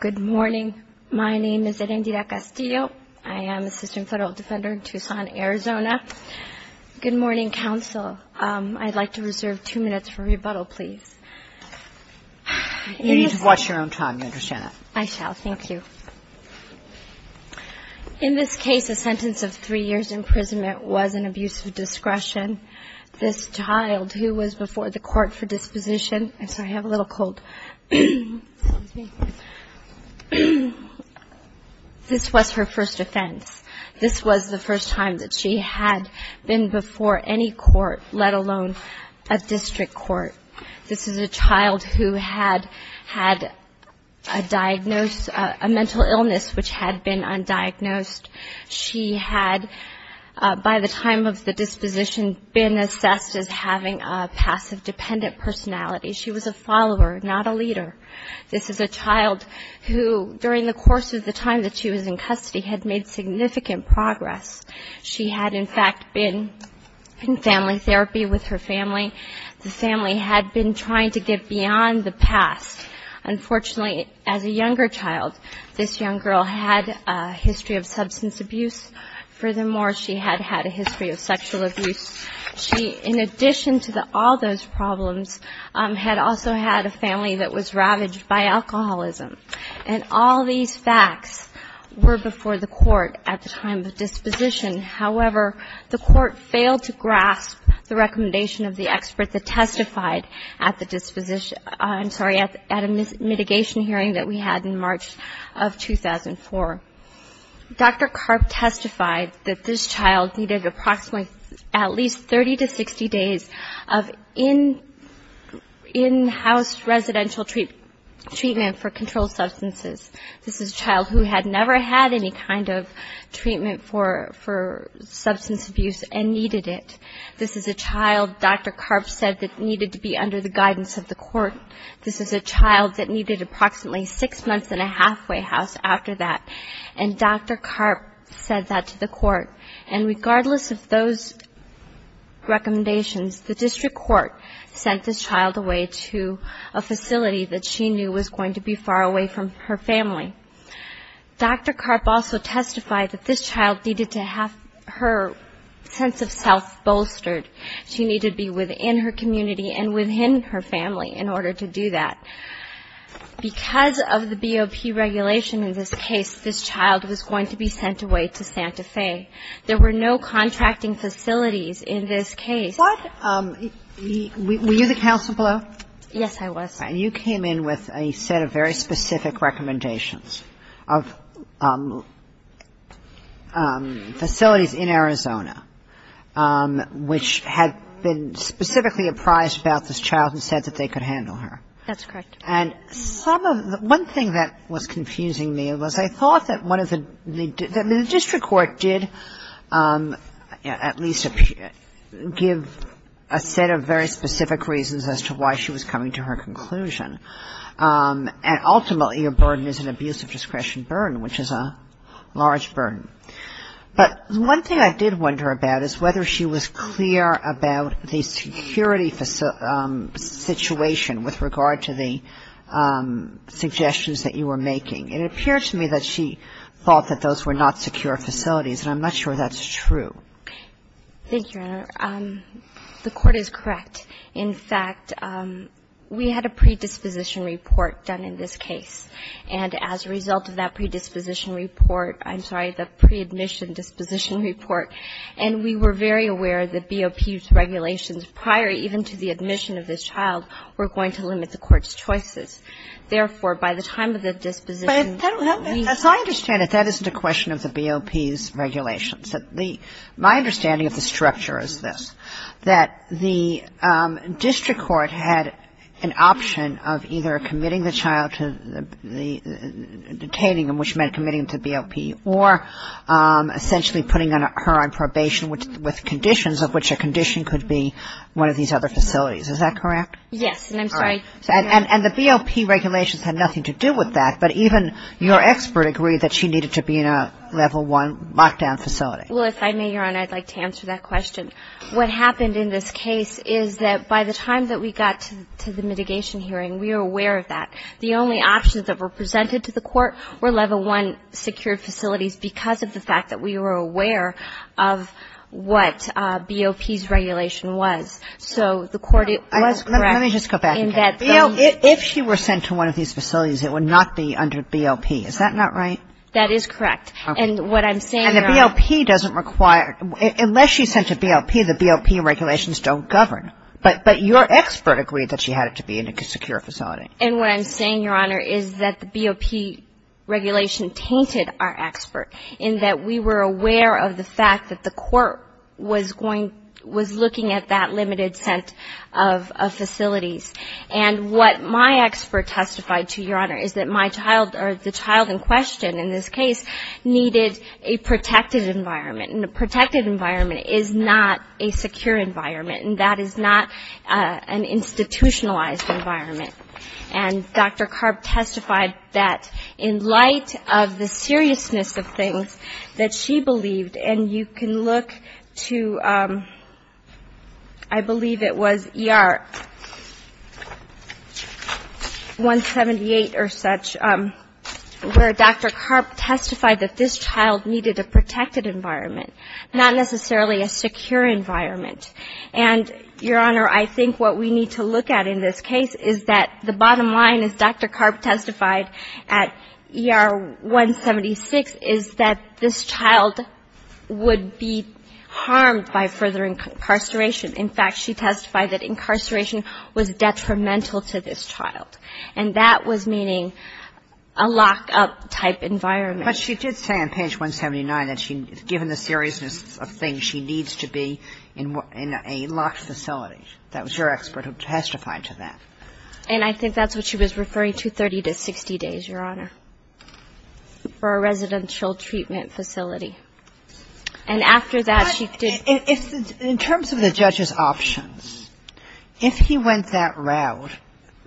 Good morning. My name is Erindita Castillo. I am assistant federal defender in Tucson, Arizona. Good morning, counsel. I'd like to reserve two minutes for rebuttal, please. You need to watch your own time. You understand that. I shall. Thank you. In this case, a sentence of three years' imprisonment was an abuse of discretion. This child, who was before the court for disposition, this was her first offense. This was the first time that she had been before any court, let alone a district court. This is a child who had had a mental illness which had been undiagnosed. She had, by the time of the disposition, been assessed as having a passive-dependent personality. She was a follower, not a leader. This is a child who, during the course of the time that she was in custody, had made significant progress. She had, in fact, been in family therapy with her family. The family had been trying to get beyond the past. Unfortunately, as a younger child, this young girl had a history of substance abuse. Furthermore, she had had a history of sexual abuse. She, in addition to all those problems, had also had a family that was ravaged by alcoholism. And all these facts were before the court at the time of disposition. However, the court failed to grasp the recommendation of the expert that testified at the disposition I'm sorry, at a mitigation hearing that we had in March of 2004. Dr. Karp testified that this child needed approximately at least 30 to 60 days of in-house residential treatment for controlled substances. This is a child who had never had any kind of treatment for substance abuse and needed it. This is a child, Dr. Karp said, that needed to be under the guidance of the court. This is a child that needed approximately six months in a halfway house after that. And Dr. Karp said that to the court. And regardless of those recommendations, the district court sent this child away to a facility that she knew was going to be far away from her family. Dr. Karp also testified that this child needed to have her sense of self bolstered. She needed to be within her community and within her family in order to do that. Because of the BOP regulation in this case, this child was going to be sent away to Santa Fe. There were no contracting facilities in this case. What? Were you the counsel below? Yes, I was. And you came in with a set of very specific recommendations of facilities in Arizona which had been specifically apprised about this child and said that they could handle her. That's correct. And some of the one thing that was confusing me was I thought that one of the the district court did at least give a set of very specific reasons as to why she was coming to her conclusion. And ultimately, a burden is an abuse of discretion burden, which is a large burden. But one thing I did wonder about is whether she was clear about the security situation with regard to the suggestions that you were making. It appeared to me that she thought that those were not secure facilities, and I'm not sure that's true. Thank you, Your Honor. The court is correct. In fact, we had a predisposition report done in this case, and as a result of that predisposition report, I'm sorry, the preadmission disposition report, and we were very aware that BOP's regulations prior even to the admission of this child were going to limit the court's choices. Therefore, by the time of the disposition, we found out that there was a security district court had an option of either committing the child to the detaining, which meant committing to BOP, or essentially putting her on probation with conditions of which a condition could be one of these other facilities. Is that correct? Yes, and I'm sorry. And the BOP regulations had nothing to do with that. But even your expert agreed that she needed to be in a level one lockdown facility. Well, if I may, Your Honor, I'd like to answer that question. What happened in this case is that by the time that we got to the mitigation hearing, we were aware of that. The only options that were presented to the court were level one secured facilities because of the fact that we were aware of what BOP's regulation was. So the court was correct in that the ---- Let me just go back. If she were sent to one of these facilities, it would not be under BOP. Is that not right? That is correct. And what I'm saying, Your Honor ---- BOP doesn't require ---- unless she's sent to BOP, the BOP regulations don't govern. But your expert agreed that she had to be in a secure facility. And what I'm saying, Your Honor, is that the BOP regulation tainted our expert in that we were aware of the fact that the court was going ---- was looking at that limited set of facilities. And what my expert testified to, Your Honor, is that my child or the child in question in this case needed a protected environment. And a protected environment is not a secure environment. And that is not an institutionalized environment. And Dr. Karp testified that in light of the seriousness of things that she believed and you can look to, I believe it was ER 178 or such, where Dr. Karp testified that this child needed a protected environment, not necessarily a secure environment. And, Your Honor, I think what we need to look at in this case is that the bottom line, as Dr. Karp testified at ER 176, is that this child would be harmed by further incarceration. In fact, she testified that incarceration was detrimental to this child. And that was meaning a lock-up-type environment. But she did say on page 179 that she, given the seriousness of things, she needs to be in a locked facility. That was your expert who testified to that. And I think that's what she was referring to, 30 to 60 days, Your Honor, for a residential treatment facility. And after that, she did ‑‑ In terms of the judge's options, if he went that route,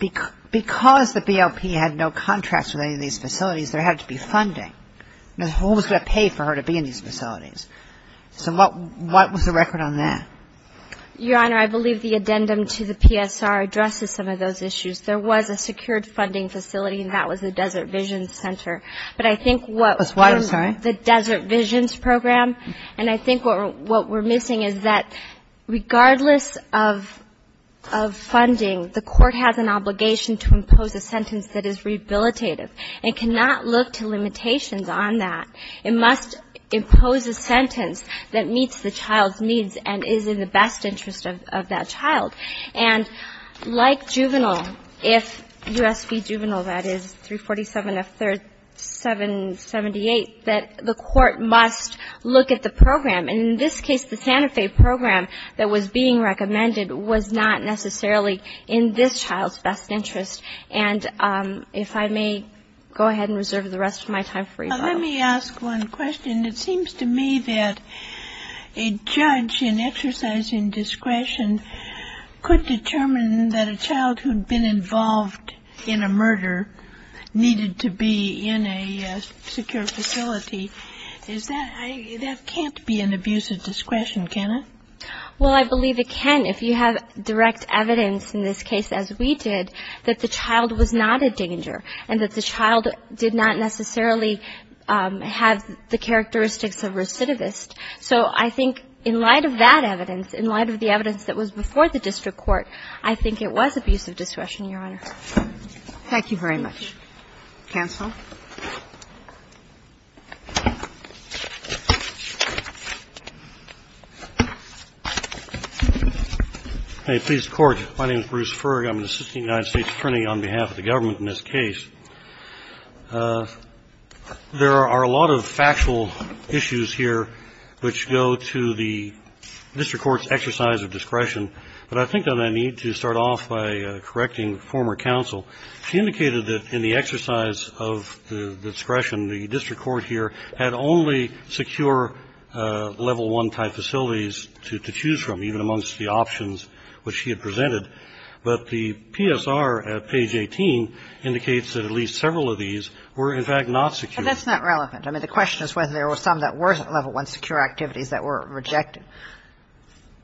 because the BLP had no contracts with any of these facilities, there had to be funding. Who was going to pay for her to be in these facilities? So what was the record on that? Your Honor, I believe the addendum to the PSR addresses some of those issues. There was a secured funding facility, and that was the Desert Visions Center. But I think what ‑‑ That's why, I'm sorry. The Desert Visions Program, and I think what we're missing is that regardless of funding, the court has an obligation to impose a sentence that is rehabilitative and cannot look to limitations on that. It must impose a sentence that meets the child's needs and is in the best interest of that child. And like juvenile, if U.S. v. Juvenile, that is 347 F. 3778, that the court must look at the program. And in this case, the Santa Fe program that was being recommended was not necessarily in this child's best interest. And if I may go ahead and reserve the rest of my time for you both. Let me ask one question. It seems to me that a judge in exercising discretion could determine that a child who had been involved in a murder needed to be in a secure facility. Is that ‑‑ that can't be an abuse of discretion, can it? Well, I believe it can if you have direct evidence in this case, as we did, that the child did not necessarily have the characteristics of recidivist. So I think in light of that evidence, in light of the evidence that was before the district court, I think it was abuse of discretion, Your Honor. Thank you very much. Counsel. Please, Court. My name is Bruce Ferg. I'm an assistant United States attorney on behalf of the government in this case. There are a lot of factual issues here which go to the district court's exercise of discretion. But I think that I need to start off by correcting former counsel. She indicated that in the exercise of the discretion, the district court here had only secure level 1 type facilities to choose from, even amongst the options which she had presented. But the PSR at page 18 indicates that at least several of these were, in fact, not secure. But that's not relevant. I mean, the question is whether there were some that were level 1 secure activities that were rejected.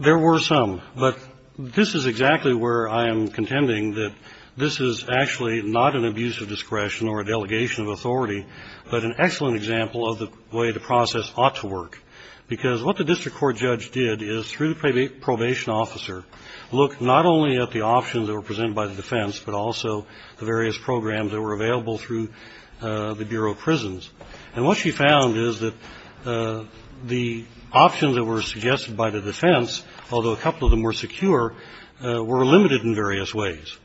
There were some. But this is exactly where I am contending that this is actually not an abuse of discretion or a delegation of authority, but an excellent example of the way the process ought to work. Because what the district court judge did is, through the probation officer, look not only at the options that were presented by the defense, but also the various programs that were available through the Bureau of Prisons. And what she found is that the options that were suggested by the defense, although a couple of them were secure, were limited in various ways.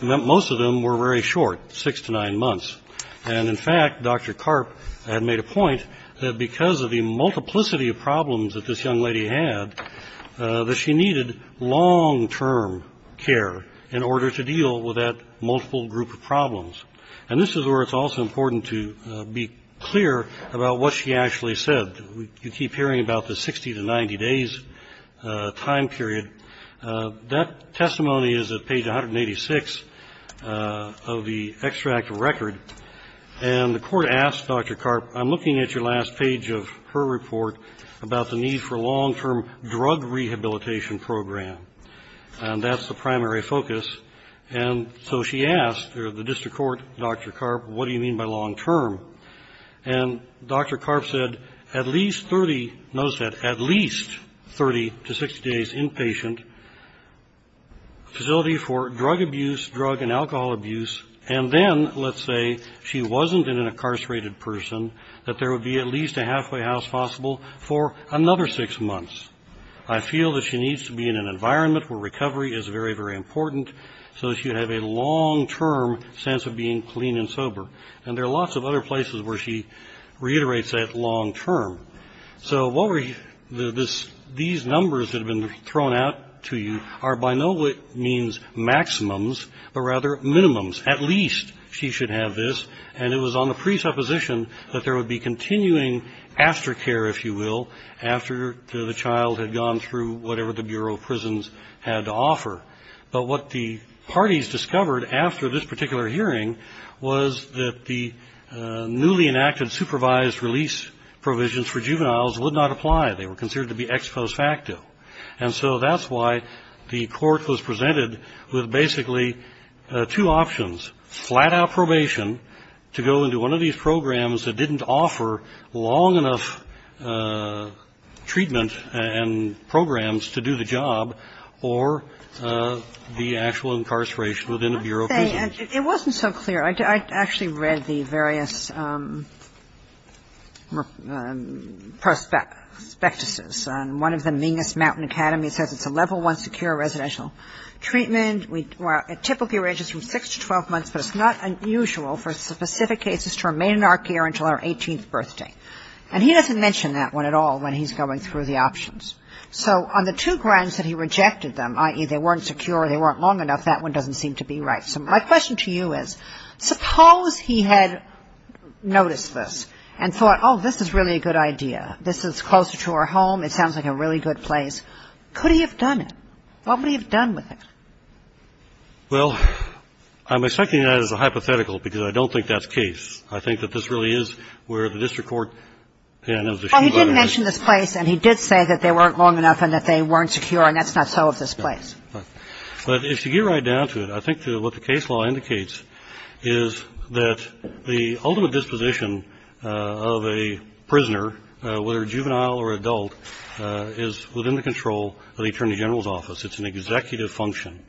Most of them were very short, six to nine months. And, in fact, Dr. Karp had made a point that because of the multiplicity of problems that this young lady had, that she needed long-term care in order to deal with that multiple group of problems. And this is where it's also important to be clear about what she actually said. You keep hearing about the 60 to 90 days time period. That testimony is at page 186 of the extract of record. And the court asked Dr. Karp, I'm looking at your last page of her report about the need for a long-term drug rehabilitation program. And that's the primary focus. And so she asked the district court, Dr. Karp, what do you mean by long-term? And Dr. Karp said, at least 30 – notice that – at least 30 to 60 days inpatient, facility for drug abuse, drug and alcohol abuse, and then, let's say, she wasn't an incarcerated person, that there would be at least a halfway house possible for another six months. I feel that she needs to be in an environment where recovery is very, very important so that she would have a long-term sense of being clean and sober. And there are lots of other places where she reiterates that long-term. So these numbers that have been thrown out to you are by no means maximums, but rather minimums. At least she should have this. And it was on the presupposition that there would be continuing aftercare, if you will, after the child had gone through whatever the Bureau of Prisons had to offer. But what the parties discovered after this particular hearing was that the newly enacted supervised release provisions for juveniles would not apply. They were considered to be ex post facto. And so that's why the court was presented with basically two options, flat-out probation to go into one of these programs that didn't offer long enough treatment and programs to do the job, or the actual incarceration within a Bureau of Prisons. It wasn't so clear. I actually read the various prospectuses. And one of them, Mingus Mountain Academy, says it's a level one secure residential treatment. It typically ranges from 6 to 12 months, but it's not unusual for specific cases to remain in our care until our 18th birthday. And he doesn't mention that one at all when he's going through the options. So on the two grants that he rejected them, i.e., they weren't secure, they weren't long enough, that one doesn't seem to be right. So my question to you is, suppose he had noticed this and thought, oh, this is really a good idea, this is closer to our home, it sounds like a really good place. Could he have done it? What would he have done with it? Well, I'm expecting that as a hypothetical because I don't think that's case. I think that this really is where the district court, and it was a sheet letter. Well, he didn't mention this place, and he did say that they weren't long enough and that they weren't secure, and that's not so of this place. But if you get right down to it, I think what the case law indicates is that the ultimate disposition of a prisoner, whether juvenile or adult, is within the control of the Attorney General's office. It's an executive function.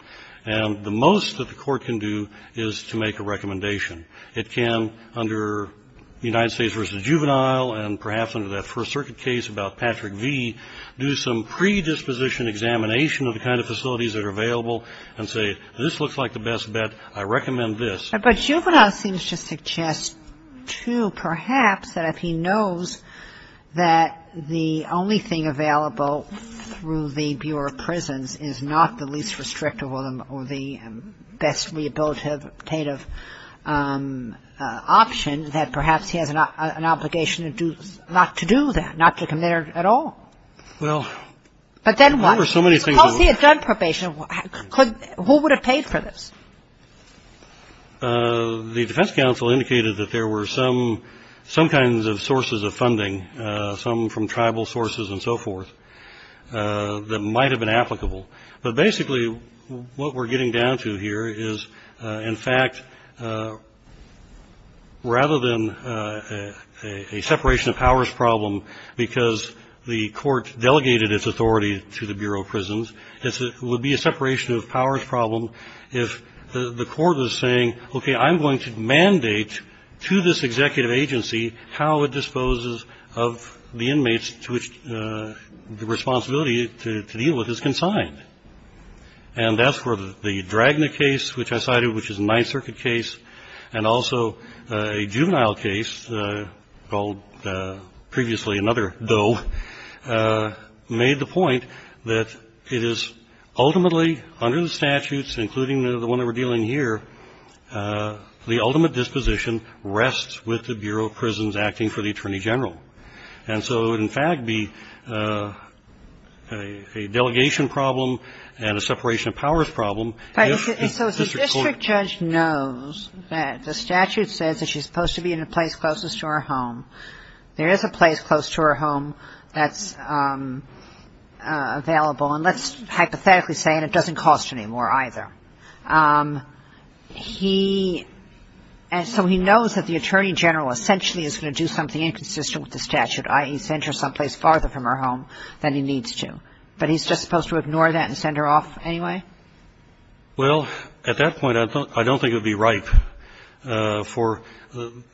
And the most that the court can do is to make a recommendation. It can, under United States v. Juvenile and perhaps under that First Circuit case about Patrick V, do some predisposition examination of the kind of facilities that are available and say, this looks like the best bet, I recommend this. But Juvenile seems to suggest, too, perhaps that if he knows that the only thing available through the Bureau of Prisons is not the least restrictive or the best rehabilitative option, that perhaps he has an obligation not to do that, not to come there at all. But then what? Suppose he had done probation. Who would have paid for this? The defense counsel indicated that there were some kinds of sources of funding, some from tribal sources and so forth, that might have been applicable. But basically what we're getting down to here is, in fact, rather than a separation of powers problem because the court delegated its authority to the Bureau of Prisons, it would be a separation of powers problem if the court was saying, okay, I'm going to mandate to this executive agency how it disposes of the inmates to which the responsibility to deal with is consigned. And that's where the Dragna case, which I cited, which is a Ninth Circuit case, and also a juvenile case called previously another Doe, made the point that it is ultimately under the statutes, including the one that we're dealing here, the ultimate disposition rests with the Bureau of Prisons acting for the Attorney General. And so it would, in fact, be a delegation problem and a separation of powers problem if the district court So if the district judge knows that the statute says that she's supposed to be in a place closest to her home, there is a place close to her home that's available. And let's hypothetically say, and it doesn't cost any more either. So he knows that the Attorney General essentially is going to do something inconsistent with the statute, i.e., send her someplace farther from her home than he needs to. But he's just supposed to ignore that and send her off anyway? Well, at that point, I don't think it would be right, for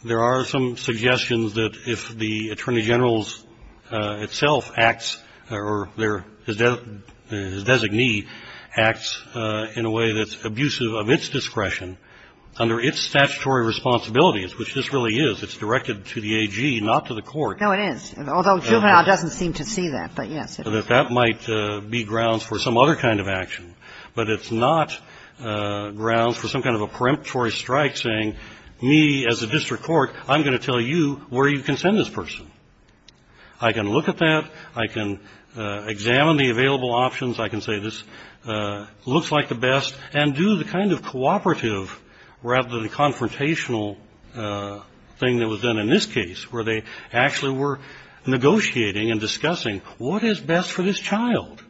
there are some suggestions that if the Attorney General's itself acts or their designee acts in a way that's abusive of its discretion under its statutory responsibilities, which this really is, it's directed to the AG, not to the court. No, it is, although juvenile doesn't seem to see that, but yes. That that might be grounds for some other kind of action. But it's not grounds for some kind of a peremptory strike saying, me as a district court, I'm going to tell you where you can send this person. I can look at that. I can examine the available options. I can say this looks like the best, and do the kind of cooperative rather than the confrontational thing that was done in this case, where they actually were negotiating and discussing what is best for this child.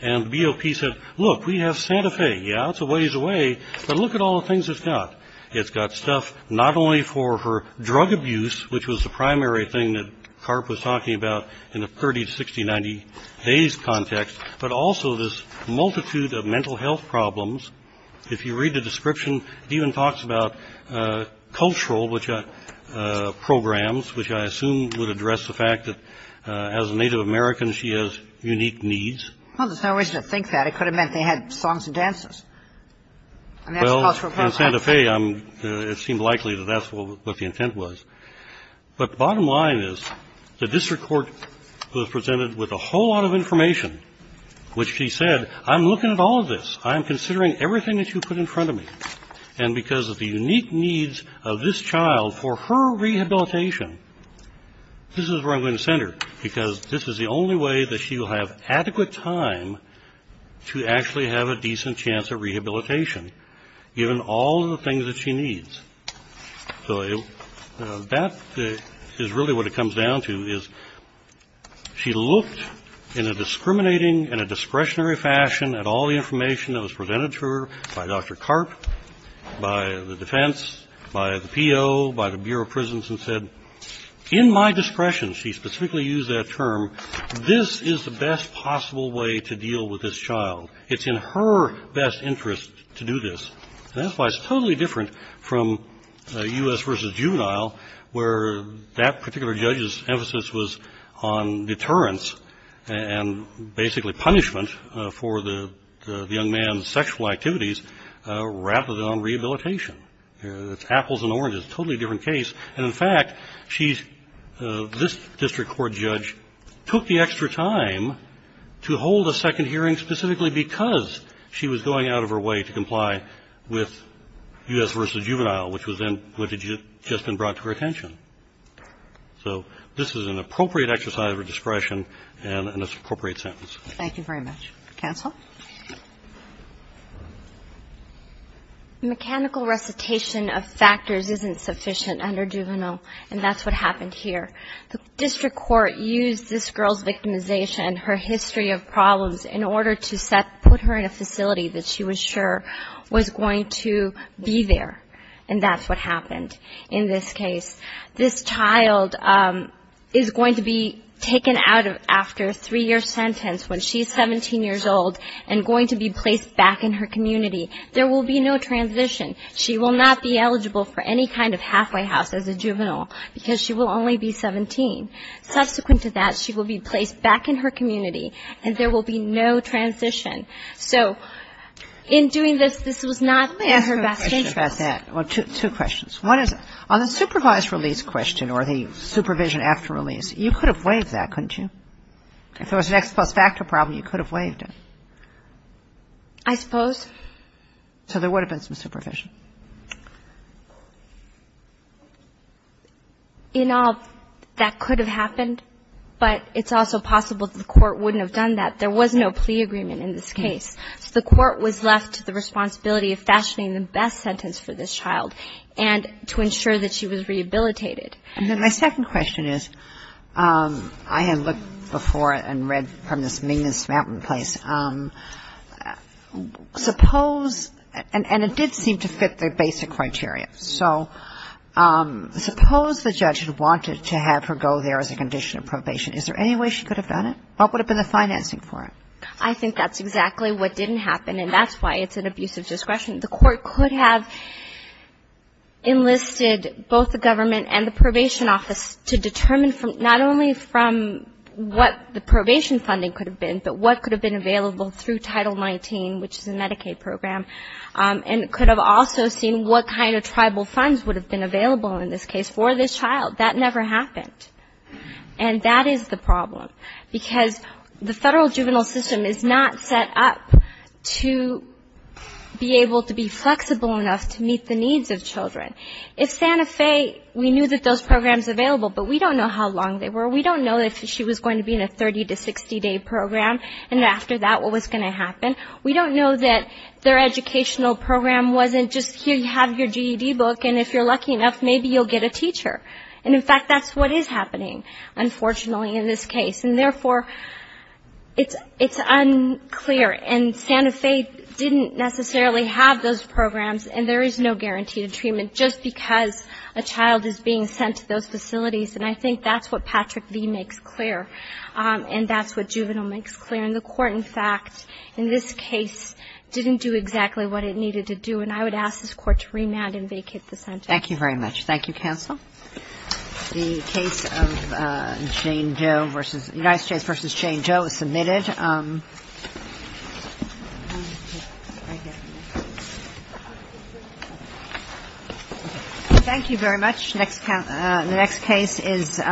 And the BOP said, look, we have Santa Fe. Yeah, it's a ways away, but look at all the things it's got. It's got stuff not only for her drug abuse, which was the primary thing that Karp was talking about in the 30 to 60, 90 days context, but also this multitude of mental health problems. If you read the description, it even talks about cultural programs, which I assume would address the fact that as a Native American, she has unique needs. Well, there's no reason to think that. It could have meant they had songs and dances. And that's cultural programs. Well, in Santa Fe, it seemed likely that that's what the intent was. But the bottom line is the district court was presented with a whole lot of information, which she said, I'm looking at all of this. I'm considering everything that you put in front of me. And because of the unique needs of this child for her rehabilitation, this is where I'm going to send her, because this is the only way that she will have adequate time to actually have a decent chance at rehabilitation, given all the things that she needs. So that is really what it comes down to, is she looked in a discriminating and a discretionary fashion at all the information that was presented to her by Dr. Karp, by the defense, by the PO, by the Bureau of Prisons, and said, in my discretion, she specifically used that term, this is the best possible way to deal with this child. It's in her best interest to do this. And that's why it's totally different from U.S. v. Juvenile, where that particular judge's emphasis was on deterrence and basically punishment for the young man's sexual activities, rather than on rehabilitation. It's apples and oranges. Totally different case. And, in fact, she's, this district court judge, took the extra time to hold a second hearing specifically because she was going out of her way to comply with U.S. v. Juvenile, which was then, which had just been brought to her attention. So this is an appropriate exercise of her discretion and an appropriate sentence. Thank you very much. Counsel? Mechanical recitation of factors isn't sufficient under juvenile, and that's what happened here. The district court used this girl's victimization, her history of problems, in order to set, put her in a facility that she was sure was going to be there, and that's what happened in this case. This child is going to be taken out after a three-year sentence when she's 17 years old and going to be placed back in her community. There will be no transition. She will not be eligible for any kind of halfway house as a juvenile because she will only be 17. Subsequent to that, she will be placed back in her community, and there will be no transition. So in doing this, this was not in her best interest. Let me ask you a question about that. Well, two questions. One is, on the supervised release question or the supervision after release, you could have waived that, couldn't you? If there was an X plus factor problem, you could have waived it. I suppose. So there would have been some supervision. In all, that could have happened, but it's also possible that the court wouldn't have done that. There was no plea agreement in this case. So the court was left to the responsibility of fashioning the best sentence for this child and to ensure that she was rehabilitated. And then my second question is, I had looked before and read from this Mingus Mountain place. Suppose, and it did seem to fit the basic criteria. So suppose the judge had wanted to have her go there as a condition of probation. Is there any way she could have done it? What would have been the financing for it? I think that's exactly what didn't happen, and that's why it's an abuse of discretion. The court could have enlisted both the government and the probation office to determine not only from what the probation funding could have been, but what could have been available through Title 19, which is a Medicaid program, and could have also seen what kind of tribal funds would have been available in this case for this child. That never happened. And that is the problem, because the federal juvenile system is not set up to be able to be flexible enough to meet the needs of children. If Santa Fe, we knew that those programs were available, but we don't know how long they were. We don't know if she was going to be in a 30- to 60-day program, and after that what was going to happen. We don't know that their educational program wasn't just, here, you have your GED book, and if you're lucky enough, maybe you'll get a teacher. And, in fact, that's what is happening, unfortunately, in this case. And, therefore, it's unclear. And Santa Fe didn't necessarily have those programs, and there is no guarantee to treatment just because a child is being sent to those facilities. And I think that's what Patrick V. makes clear, and that's what juvenile makes clear. And the court, in fact, in this case, didn't do exactly what it needed to do, and I would ask this court to remand and vacate the sentence. Thank you very much. Thank you, counsel. The case of United States v. Jane Jo is submitted. Thank you very much. Next case is